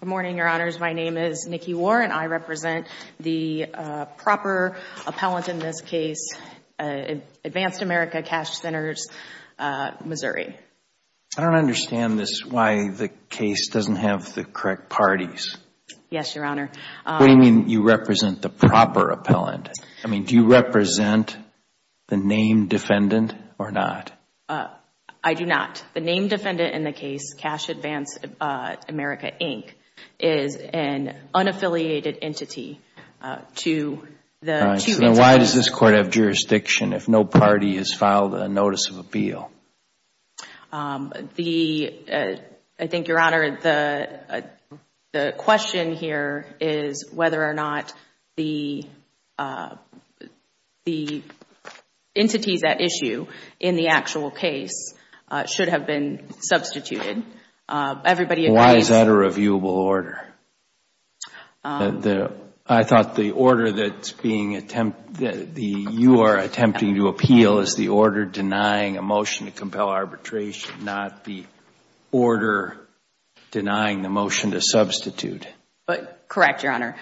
Good morning, Your Honors. My name is Nikki Warren. I represent the proper appellant in this case, Advanced America Cash Centers, Missouri. I don't understand this, why the case doesn't have the correct parties. Yes, Your Honor. What do you mean you represent the proper appellant? I mean, do you represent the named defendant or not? I do not. The named defendant in the case, Cash Advance America, Inc., is an unaffiliated entity to the two entities. Why does this court have jurisdiction if no party has filed a notice of appeal? I think, Your Honor, the question here is whether or not the entities at issue in the actual case should have been substituted. Everybody agrees... Why is that a reviewable order? I thought the order that you are attempting to appeal is the order denying a motion to compel arbitration, not the order denying the motion to substitute. Correct, Your Honor.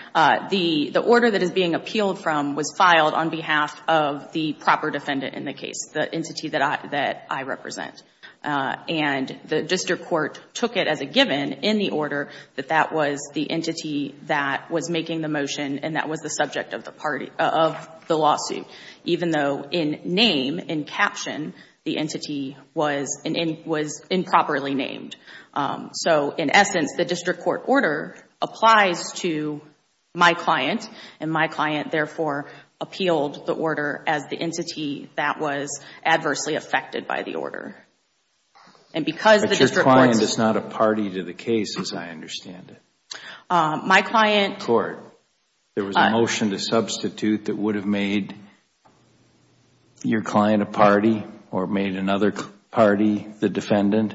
The order that is being appealed from was filed on behalf of the proper defendant in the case, the entity that I represent. And the district court took it as a given in the order that that was the entity that was making the motion and that was the subject of the lawsuit, even though in name, in caption, the entity was improperly named. So, in essence, the district court order applies to my client, and my client, therefore, appealed the order as the entity that was adversely affected by the order. But your client is not a party to the case, as I understand it. My client... There was a motion to substitute that would have made your client a party or made another party the defendant,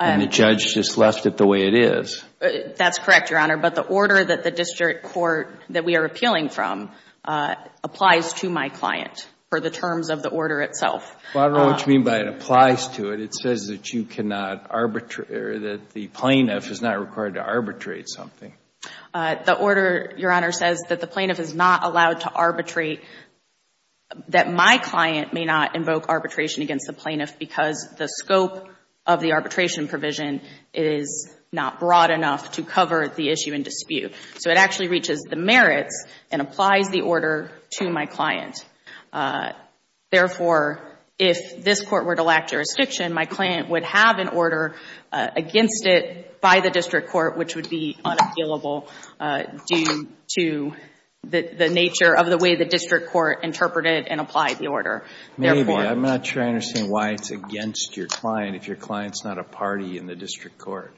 and the judge just left it the way it is. That's correct, Your Honor. But the order that the district court that we are appealing from applies to my client for the terms of the order itself. I don't know what you mean by it applies to it. It says that you cannot arbitrate or that the plaintiff is not required to arbitrate something. The order, Your Honor, says that the plaintiff is not allowed to arbitrate, that my client may not invoke arbitration against the plaintiff because the scope of the arbitration provision is not broad enough to cover the issue in dispute. So, it actually reaches the merits and applies the order to my client. Therefore, if this court were to lack jurisdiction, my client would have an order against it by the district court, which would be unappealable due to the nature of the way the district court interpreted and applied the order. Maybe. I'm not sure I understand why it's against your client if your client's not a party in the district court.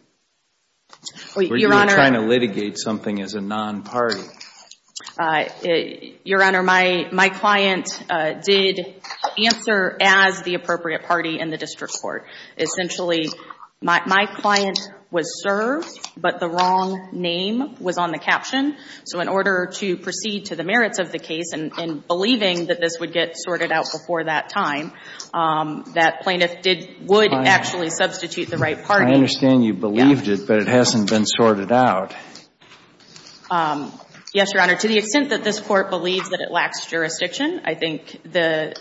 Your Honor... Or you're trying to litigate something as a non-party. Your Honor, my client did answer as the appropriate party in the district court. Essentially, my client was served, but the wrong name was on the caption. So, in order to proceed to the merits of the case and believing that this would get sorted out before that time, that plaintiff would actually substitute the right party. I understand you believed it, but it hasn't been sorted out. Yes, Your Honor. To the extent that this court believes that it lacks jurisdiction, I think the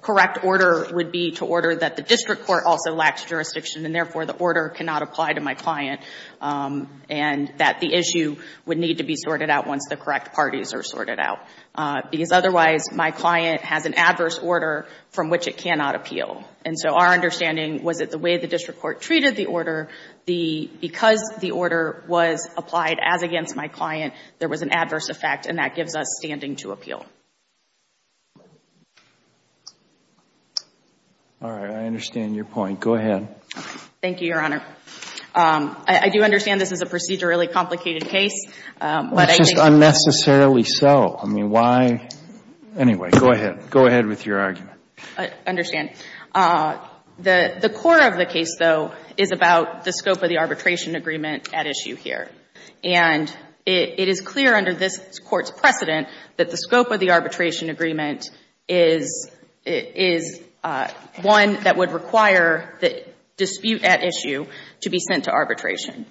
correct order would be to order that the district court also lacks jurisdiction and, therefore, the order cannot apply to my client and that the issue would need to be sorted out once the correct parties are sorted out. Because otherwise, my client has an adverse order from which it cannot appeal. And so, our understanding was that the way the district court treated the order, because the order was applied as against my client, there was an adverse effect and that gives us standing to appeal. All right. I understand your point. Go ahead. Thank you, Your Honor. I do understand this is a procedurally complicated case, but I think... Well, it's just unnecessarily so. I mean, why... Anyway, go ahead. Go ahead with your argument. I understand. The core of the case, though, is about the scope of the arbitration agreement at issue here. And it is clear under this court's precedent that the scope of the arbitration agreement is one that would require the dispute at issue to be sent to arbitration.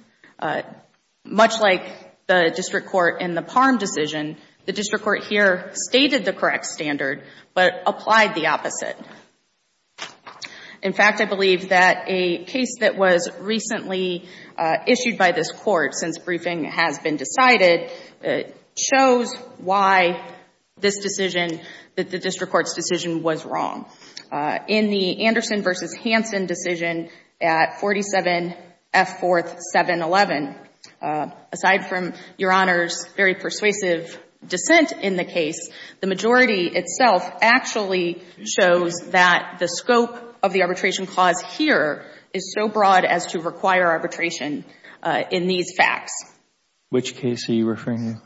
Much like the district court in the Palm decision, the district court here stated the correct standard, but applied the opposite. In fact, I believe that a case that was recently issued by this court, since briefing has been decided, shows why this decision, the district court's decision, was wrong. In the Anderson v. Hansen decision at 47 F. 4th 711, aside from Your Honor's very persuasive dissent in the case, the majority itself actually shows that the scope of the arbitration clause here is so broad as to require arbitration in these facts. Which case are you referring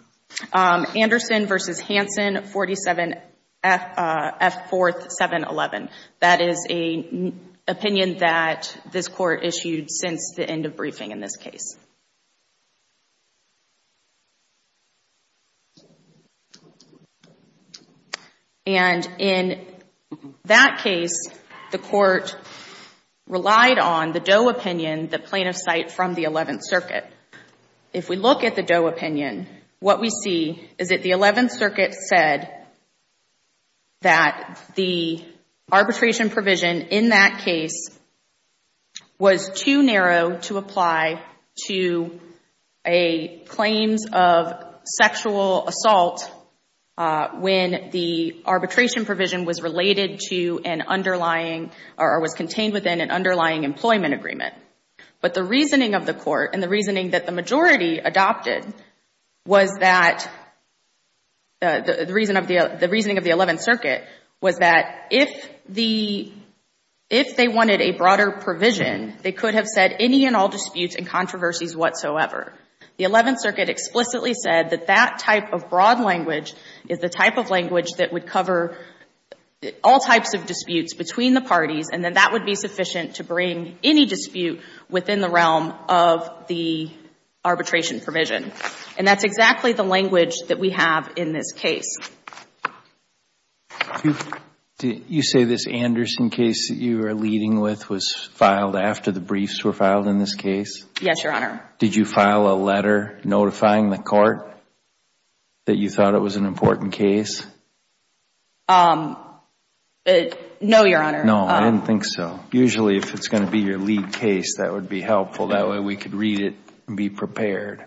to? Anderson v. Hansen, 47 F. 4th 711. That is an opinion that this Court issued since the decision. And in that case, the Court relied on the Doe opinion, the plaintiff's site from the Eleventh Circuit. If we look at the Doe opinion, what we see is that the Eleventh Circuit said that the arbitration provision in that case was too narrow to apply to claims of sexual assault when the arbitration provision was related to an underlying or was contained within an underlying employment agreement. But the reasoning of the Court and the reasoning that the majority adopted was that, the reasoning of the Eleventh Circuit was that if they wanted a broader provision, they could have said any and all disputes and controversies whatsoever. The Eleventh Circuit explicitly said that that type of broad language is the type of language that would cover all types of disputes between the parties, and then that would be sufficient to bring any dispute within the realm of the arbitration provision. And that's exactly the language that we have in this case. Do you say this Anderson case that you are leading with was filed after the briefs were filed in this case? Yes, Your Honor. Did you file a letter notifying the Court that you thought it was an important case? No, Your Honor. No, I didn't think so. Usually, if it's going to be your lead case, that would be helpful. That way, we could read it and be prepared.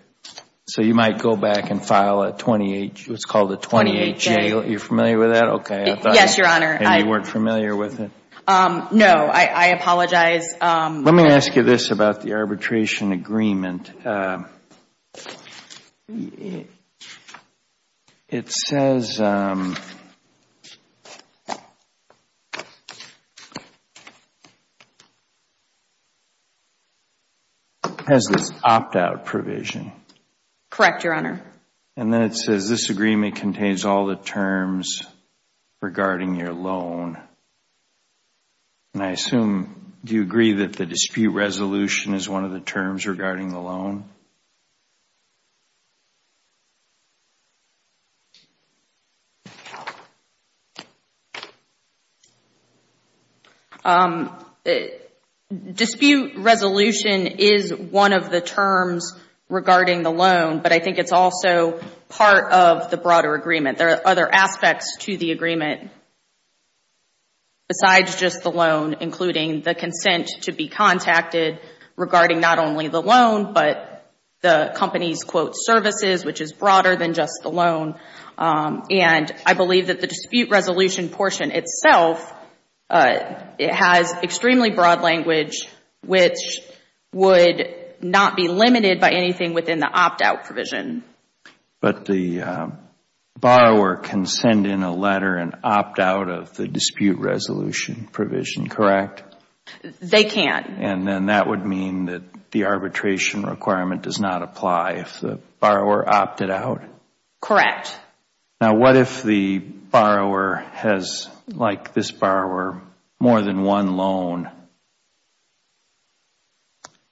So you might go back and file a 28, what's called a 28-J. 28-J. You're familiar with that? Okay. Yes, Your Honor. And you weren't familiar with it? No, I apologize. Let me ask you this about the arbitration agreement. It says, it has this opt-out provision. Correct, Your Honor. And then it says, this agreement contains all the terms regarding your loan. And I assume you agree that the dispute resolution is one of the terms regarding the loan? Dispute resolution is one of the terms regarding the loan, but I think it's also part of the the consent to be contacted regarding not only the loan, but the company's, quote, services, which is broader than just the loan. And I believe that the dispute resolution portion itself has extremely broad language, which would not be limited by anything within the opt-out provision. But the borrower can send in a letter and opt out of the dispute resolution provision, correct? They can. And then that would mean that the arbitration requirement does not apply if the borrower opted out? Correct. Now, what if the borrower has, like this borrower, more than one loan?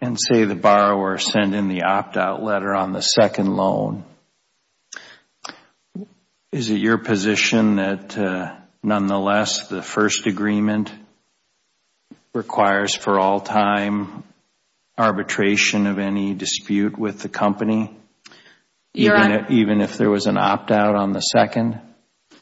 And say the borrower sent in the opt-out letter on the second loan, is it your position that nonetheless the first agreement requires for all time arbitration of any dispute with the company? Even if there was an opt-out on the second?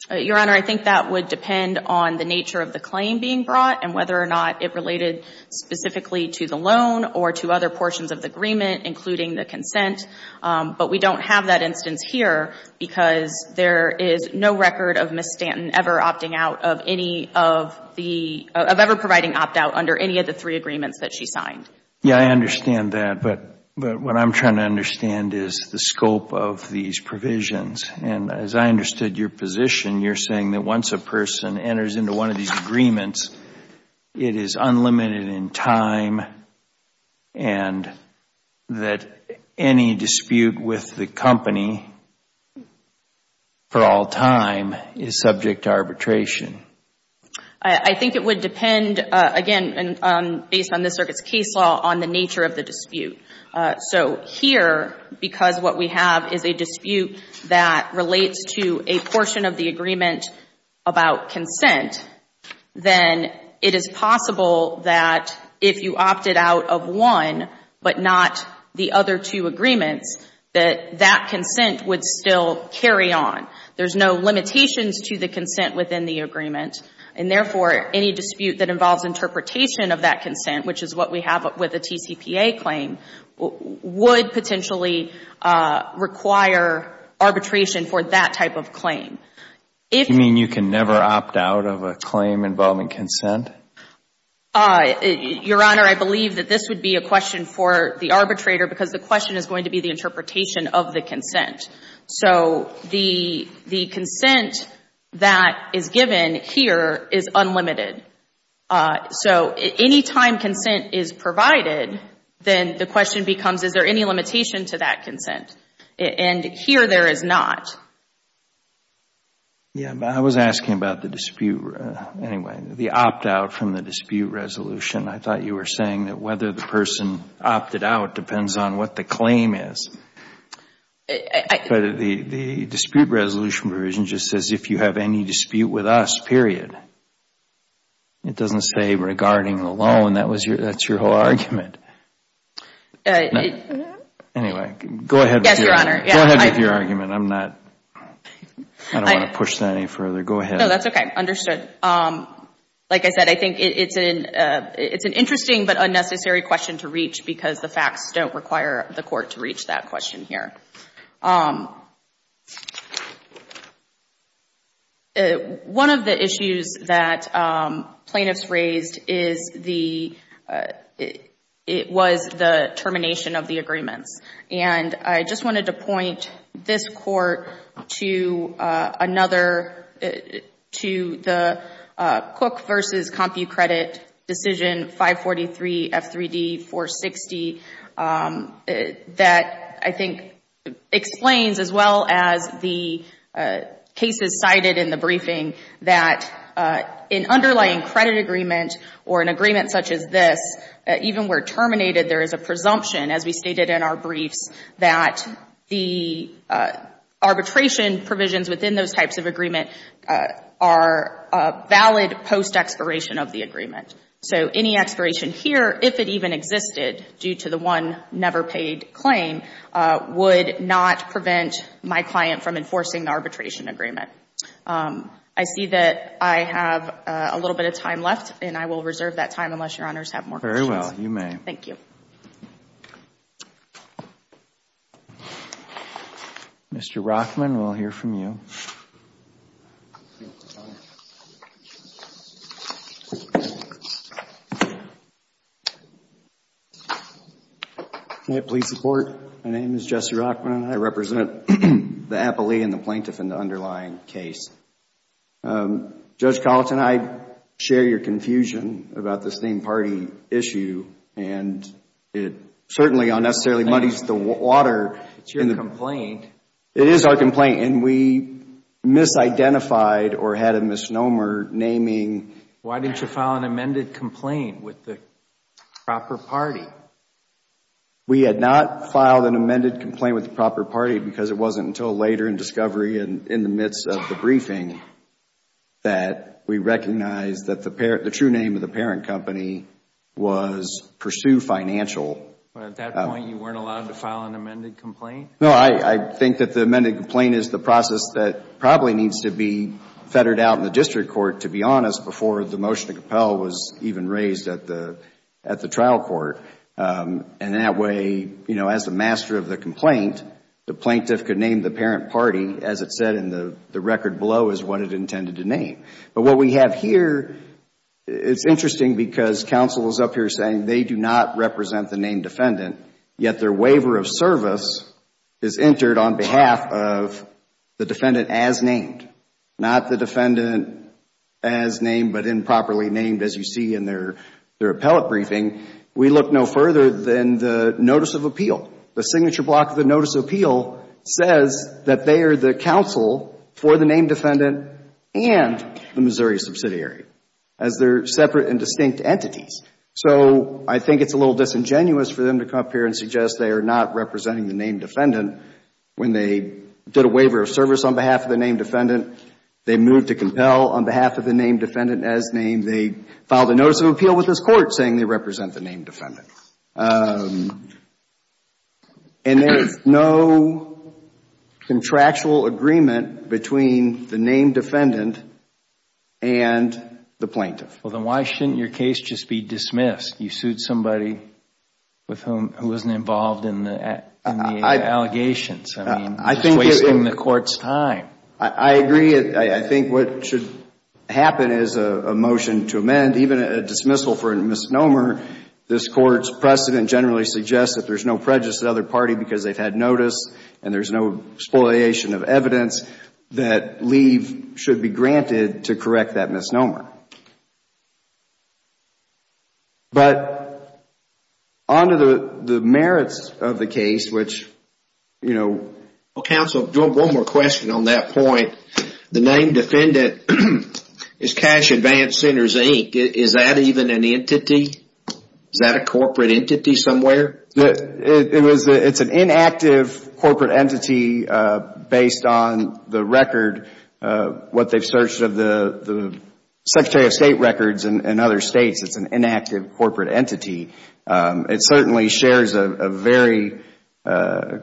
Your Honor, I think that would depend on the nature of the claim being brought and whether or not it related specifically to the loan or to other portions of the agreement, including the consent. But we don't have that instance here because there is no record of Ms. Stanton ever opting out of any of the, of ever providing opt-out under any of the three agreements that she signed. Yes, I understand that. But what I am trying to understand is the scope of these provisions. And as I understood your position, you are saying that once a person enters into one of these agreements, it is unlimited in time and that any dispute with the company for all time is subject to arbitration? I think it would depend, again, based on this Circuit's case law, on the nature of the dispute. So here, because what we have is a dispute that relates to a portion of the agreement about consent, then it is possible that if you opted out of one but not the other two to the consent within the agreement. And therefore, any dispute that involves interpretation of that consent, which is what we have with the TCPA claim, would potentially require arbitration for that type of claim. Do you mean you can never opt out of a claim involving consent? Your Honor, I believe that this would be a question for the arbitrator because the question is going to be the interpretation of the consent. So the consent that is given here is unlimited. So any time consent is provided, then the question becomes, is there any limitation to that consent? And here, there is not. Yes, but I was asking about the dispute, anyway, the opt-out from the dispute resolution. I thought you were saying that whether the person opted out depends on what the claim is. But the dispute resolution provision just says, if you have any dispute with us, period. It doesn't say regarding alone. That's your whole argument. Anyway, go ahead with your argument. I'm not, I don't want to push that any further. Go ahead. No, that's okay. Understood. Like I said, I think it's an interesting but unnecessary question to reach because the facts don't require the court to reach that question here. One of the issues that plaintiffs raised was the termination of the agreements. And I just to the Cook v. CompuCredit decision 543 F3D 460 that I think explains as well as the cases cited in the briefing that an underlying credit agreement or an agreement such as this, even where terminated, there is a presumption, as we stated in our briefs, that the arbitration provisions within those types of agreement are valid post-expiration of the agreement. So any expiration here, if it even existed due to the one never paid claim, would not prevent my client from enforcing the arbitration agreement. I see that I have a little bit of time left, and I will reserve that time unless Your Honors have more questions. Very well. You may. Thank you. Mr. Rockman, we will hear from you. May it please the Court? My name is Jesse Rockman. I represent the appellee and the plaintiff in the underlying case. Judge Collett and I share your confusion about this theme party issue, and it certainly unnecessarily muddies the water. It is your complaint. It is our complaint, and we misidentified or had a misnomer naming. Why didn't you file an amended complaint with the proper party? We had not filed an amended complaint with the proper party because it wasn't until later in discovery and in the midst of the briefing that we recognized that the true name of the parent company was Pursue Financial. At that point, you weren't allowed to file an amended complaint? No, I think that the amended complaint is the process that probably needs to be fettered out in the district court, to be honest, before the motion to compel was even raised at the trial court. That way, as the master of the complaint, the plaintiff could name the parent party, as it said in the record below, as what it intended to name. But what we have here, it is interesting because counsel is up here saying they do not represent the named defendant, yet their waiver of service is entered on behalf of the defendant as named. Not the defendant as named, but improperly named, as you see in their appellate briefing. We look no further than the notice of appeal. The signature block of the notice of appeal says that they are the counsel for the named defendant and the Missouri subsidiary, as they are separate and distinct entities. So I think it is a little disingenuous for them to come up here and suggest they are not representing the named defendant when they did a waiver of service on behalf of the named defendant. They moved to compel on behalf of the named defendant as named. They filed a notice of appeal with this court saying they represent the named defendant. And there is no contractual agreement between the named defendant and the plaintiff. Well, then why shouldn't your case just be dismissed? You sued somebody with whom, who wasn't involved in the allegations. I mean, you are just wasting the court's time. I agree. I think what should happen is a motion to amend, even a dismissal for a misnomer. This court's precedent generally suggests that there is no prejudice to the other party because they have had notice and there is no exploitation of evidence that leave should be granted to correct that misnomer. But on to the merits of the case, which, you know. Counsel, one more question on that point. The named defendant is Cash Advanced Sinners, Inc. Is that even an entity? Is that a corporate entity somewhere? It's an inactive corporate entity based on the record, what they've searched of the Secretary of State records in other states. It's an inactive corporate entity. It certainly shares a very, the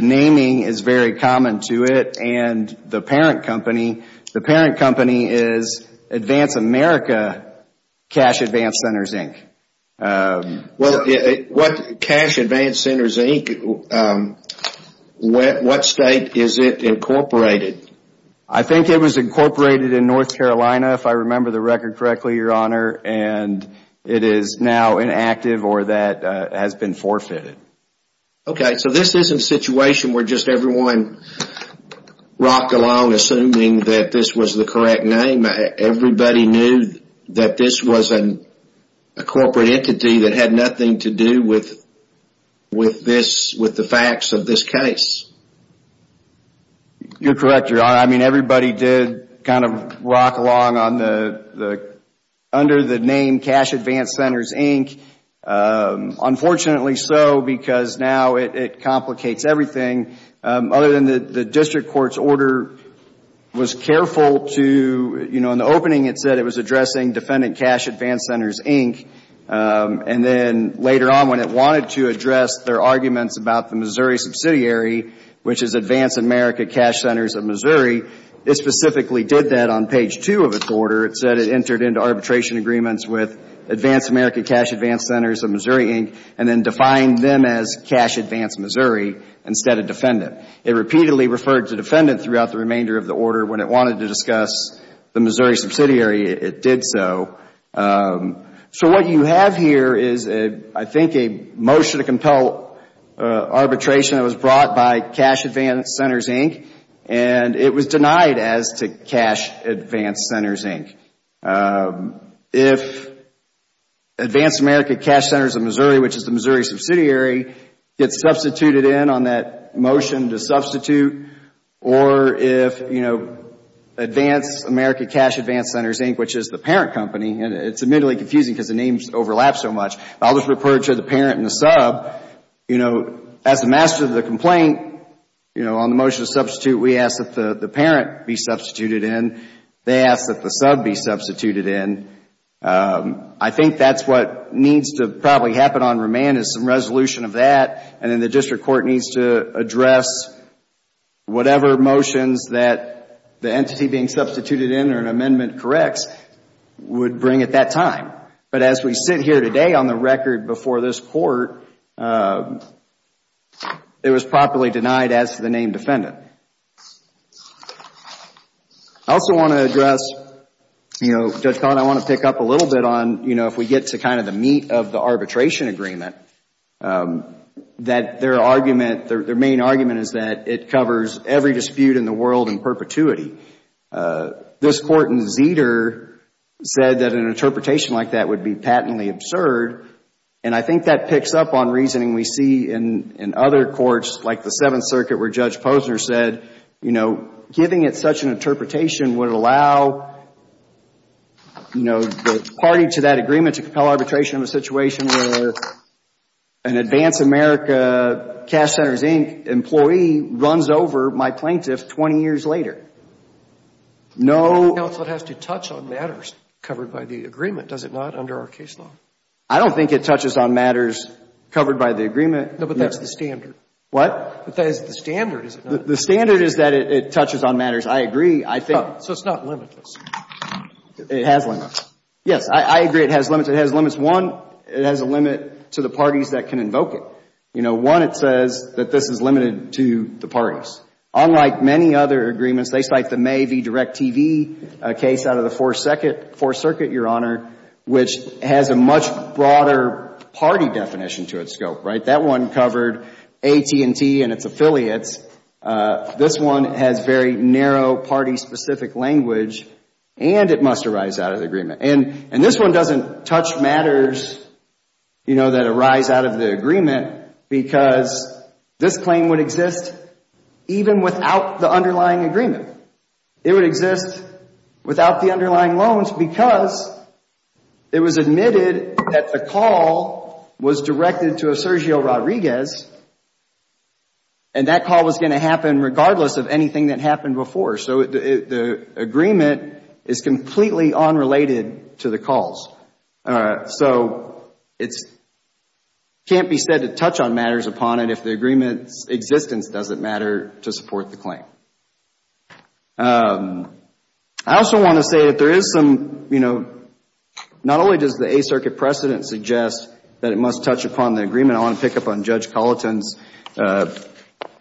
naming is very common to it and the parent company. The parent company is Advance America Cash Advanced Sinners, Inc. What Cash Advanced Sinners, Inc., what state is it incorporated? I think it was incorporated in North Carolina, if I remember the record correctly, Your Honor. It is now inactive or that has been forfeited. Okay. So this isn't a situation where just everyone rocked along assuming that this was the correct name. Everybody knew that this was a corporate entity that had nothing to do with this, with the facts of this case. You're correct, Your Honor. I mean, everybody did kind of rock along under the name Cash Advanced Sinners, Inc. Unfortunately so, because now it complicates everything. Other than the district court's order was careful to, you know, in the opening it said it was addressing Defendant Cash Advanced Sinners, Inc. And then later on when it wanted to address their arguments about the Missouri subsidiary, which is Advance America Cash Sinners of Missouri, it specifically did that on page 2 of its order. It said it entered into arbitration agreements with Advance America Cash Advanced Sinners of Missouri, Inc. and then defined them as Cash Advanced Missouri instead of Defendant. It repeatedly referred to Defendant throughout the remainder of the order. When it wanted to discuss the Missouri subsidiary, it did so. So what you have here is, I think, a motion to compel arbitration that was brought by Cash Advanced Sinners, Inc., and it was denied as to Cash Advanced Sinners, Inc. If Advance America Cash Sinners of Missouri, which is the Missouri subsidiary, gets substituted in on that motion to substitute, or if, you know, Advance America Cash Advanced Sinners, Inc., which is the parent company, and it's admittedly confusing because the names overlap so much. I'll just refer to the parent and the sub. You know, as the master of the complaint, you know, on the motion to substitute, we ask that the parent be substituted in. They ask that the sub be substituted in. I think that's what needs to probably happen on remand is some resolution of that, and then the district court needs to address whatever motions that the entity being substituted in or an amendment corrects would bring at that time. But as we sit here today on the record before this court, it was properly denied as to the name Defendant. I also want to address, you know, Judge Collin, I want to pick up a little bit on, you know, if we get to kind of the meat of the arbitration agreement, that their argument, their main argument is that it covers every dispute in the world in perpetuity. This Court in Zeder said that an interpretation like that would be patently absurd, and I think that picks up on reasoning we see in other courts, like the Seventh Circuit where Judge Posner said, you know, giving it such an interpretation would allow, you know, the party to that agreement to compel arbitration in a situation where an Advance America Cash Centers, Inc. employee runs over my plaintiff 20 years later. No. But the counselor has to touch on matters covered by the agreement, does it not, under our case law? I don't think it touches on matters covered by the agreement. No, but that's the standard. What? But that is the standard, is it not? The standard is that it touches on matters. I agree. I think. So it's not limitless. It has limits. Yes. I agree it has limits. It has limits. One, it has a limit to the parties that can invoke it. You know, one, it says that this is limited to the parties. Unlike many other agreements, they cite the May v. Direct TV case out of the Fourth Circuit, Your Honor, which has a much broader party definition to its scope, right? That one covered AT&T and its affiliates. This one has very narrow party-specific language, and it must arise out of the agreement. And this one doesn't touch matters, you know, that arise out of the agreement because this claim would exist even without the underlying agreement. It would exist without the underlying loans because it was admitted that the call was by Rodriguez, and that call was going to happen regardless of anything that happened before. So the agreement is completely unrelated to the calls. So it can't be said to touch on matters upon it if the agreement's existence doesn't matter to support the claim. I also want to say that there is some, you know, not only does the Eighth Circuit precedent suggest that it must touch upon the agreement, I want to pick up on Judge Culliton's,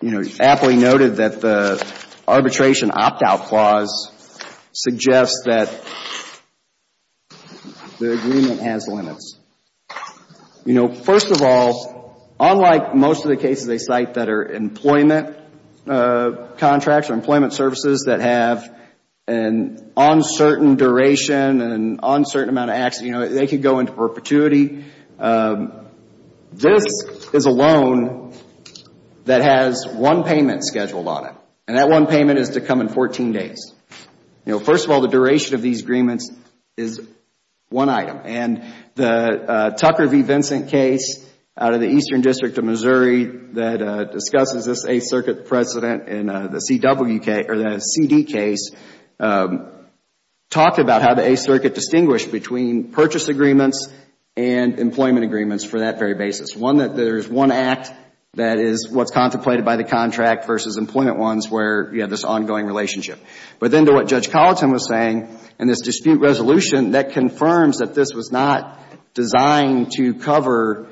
you know, aptly noted that the arbitration opt-out clause suggests that the agreement has limits. You know, first of all, unlike most of the cases they cite that are employment contracts or employment services that have an uncertain duration and an uncertain amount of action, you know, they could go into perpetuity. This is a loan that has one payment scheduled on it, and that one payment is to come in 14 days. You know, first of all, the duration of these agreements is one item. And the Tucker v. Vincent case out of the Eastern District of Missouri that discusses this Eighth Circuit precedent in the CW case, or the CD case, talked about how the Eighth Circuit has purchase agreements and employment agreements for that very basis. One that there is one act that is what's contemplated by the contract versus employment ones where you have this ongoing relationship. But then to what Judge Culliton was saying in this dispute resolution, that confirms that this was not designed to cover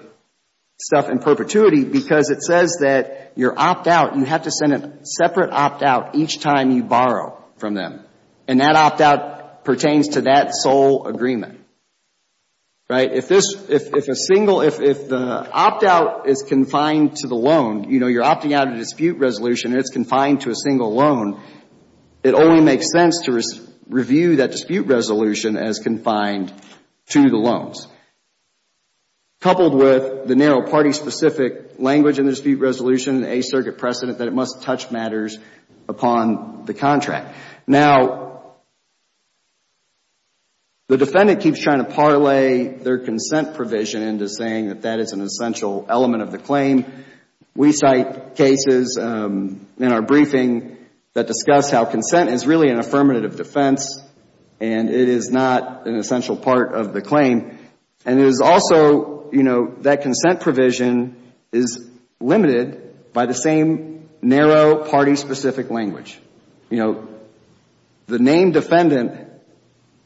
stuff in perpetuity because it says that your opt-out, you have to send a separate opt-out each time you borrow from them. And that opt-out pertains to that sole agreement. Right? If this, if a single, if the opt-out is confined to the loan, you know, you're opting out a dispute resolution and it's confined to a single loan, it only makes sense to review that dispute resolution as confined to the loans, coupled with the narrow party-specific language in the dispute resolution, the Eighth Circuit precedent, that it must touch matters upon the contract. Now, the defendant keeps trying to parlay their consent provision into saying that that is an essential element of the claim. We cite cases in our briefing that discuss how consent is really an affirmative defense and it is not an essential part of the claim. And it is also, you know, that consent provision is limited by the same narrow party-specific language. You know, the named defendant,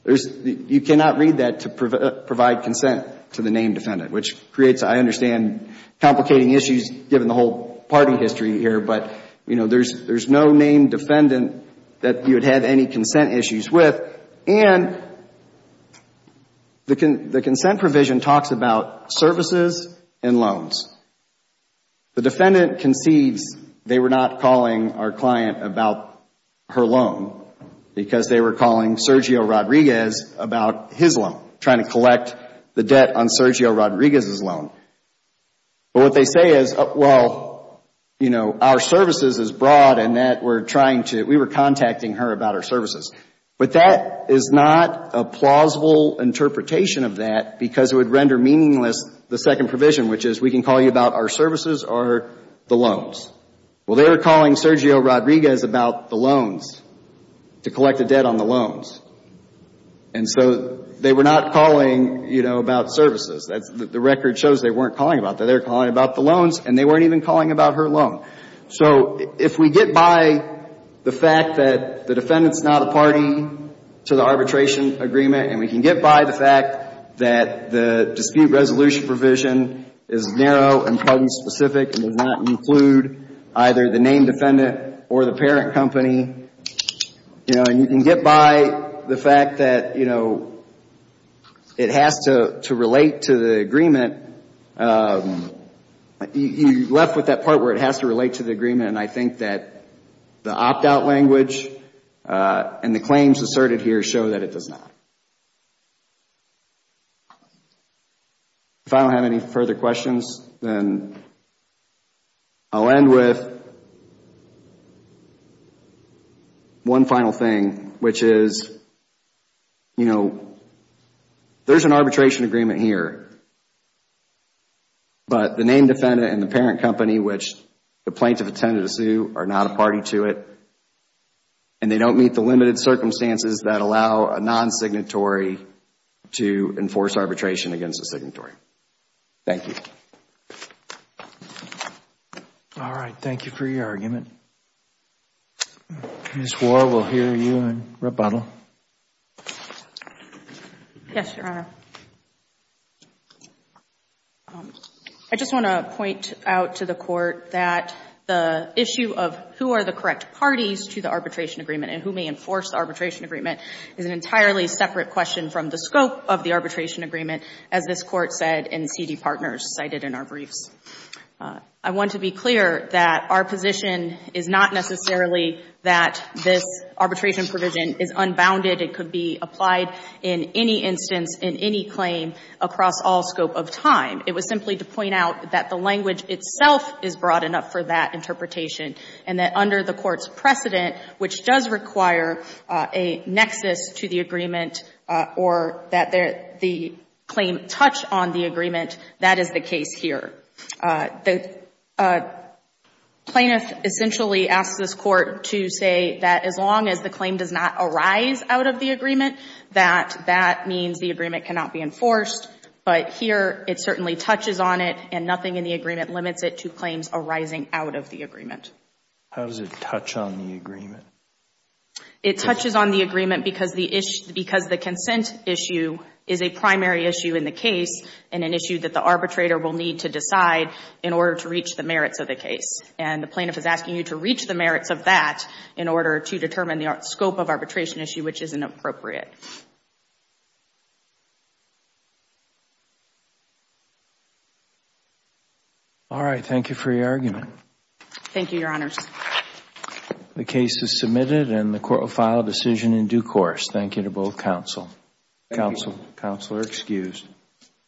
you cannot read that to provide consent to the named defendant, which creates, I understand, complicating issues given the whole party history here. But, you know, there's no named defendant that you would have any consent issues with. And the consent provision talks about services and loans. The defendant concedes they were not calling our client about her loan because they were calling Sergio Rodriguez about his loan, trying to collect the debt on Sergio Rodriguez's loan. But what they say is, well, you know, our services is broad and that we're trying to – we were contacting her about our services. But that is not a plausible interpretation of that because it would render meaningless the second provision, which is we can call you about our services or the loans. Well, they were calling Sergio Rodriguez about the loans, to collect the debt on the loans. And so they were not calling, you know, about services. The record shows they weren't calling about that. They were calling about the loans and they weren't even calling about her loan. So if we get by the fact that the defendant's not a party to the arbitration agreement and we can get by the fact that the dispute resolution provision is narrow and patent-specific and does not include either the named defendant or the parent company, you know, and you can get by the fact that, you know, it has to relate to the agreement, you're left with that part where it has to relate to the agreement and I think that the opt-out language and the claims asserted here show that it does not. If I don't have any further questions, then I'll end with one final thing, which is, you know, there's an arbitration agreement here, but the named defendant and the parent company, which the plaintiff attended a suit, are not a party to it and they don't meet the limited circumstances that allow a non-signatory to enforce arbitration against a signatory. Thank you. All right. Thank you for your argument. Ms. Waugh, we'll hear you in rebuttal. Yes, Your Honor. I just want to point out to the Court that the issue of who are the correct parties to the arbitration agreement and who may enforce the arbitration agreement is an entirely separate question from the scope of the arbitration agreement, as this Court said in the CD Partners cited in our briefs. I want to be clear that our position is not necessarily that this arbitration provision is unbounded. It could be applied in any instance, in any claim, across all scope of time. It was simply to point out that the language itself is broad enough for that interpretation and that under the Court's precedent, which does require a nexus to the agreement or that the claim touch on the agreement, that is the case here. The plaintiff essentially asks this Court to say that as long as the claim does not arise out of the agreement, that that means the agreement cannot be enforced, but here it certainly touches on it and nothing in the agreement limits it to claims arising out of the agreement. How does it touch on the agreement? It touches on the agreement because the consent issue is a primary issue in the case and an issue that the arbitrator will need to decide in order to reach the merits of the case. And the plaintiff is asking you to reach the merits of that in order to determine the scope of arbitration issue, which is inappropriate. All right. Thank you for your argument. Thank you, Your Honors. The case is submitted and the Court will file a decision in due course. Thank you to both counsel. Thank you. Counsel. Counsel are excused.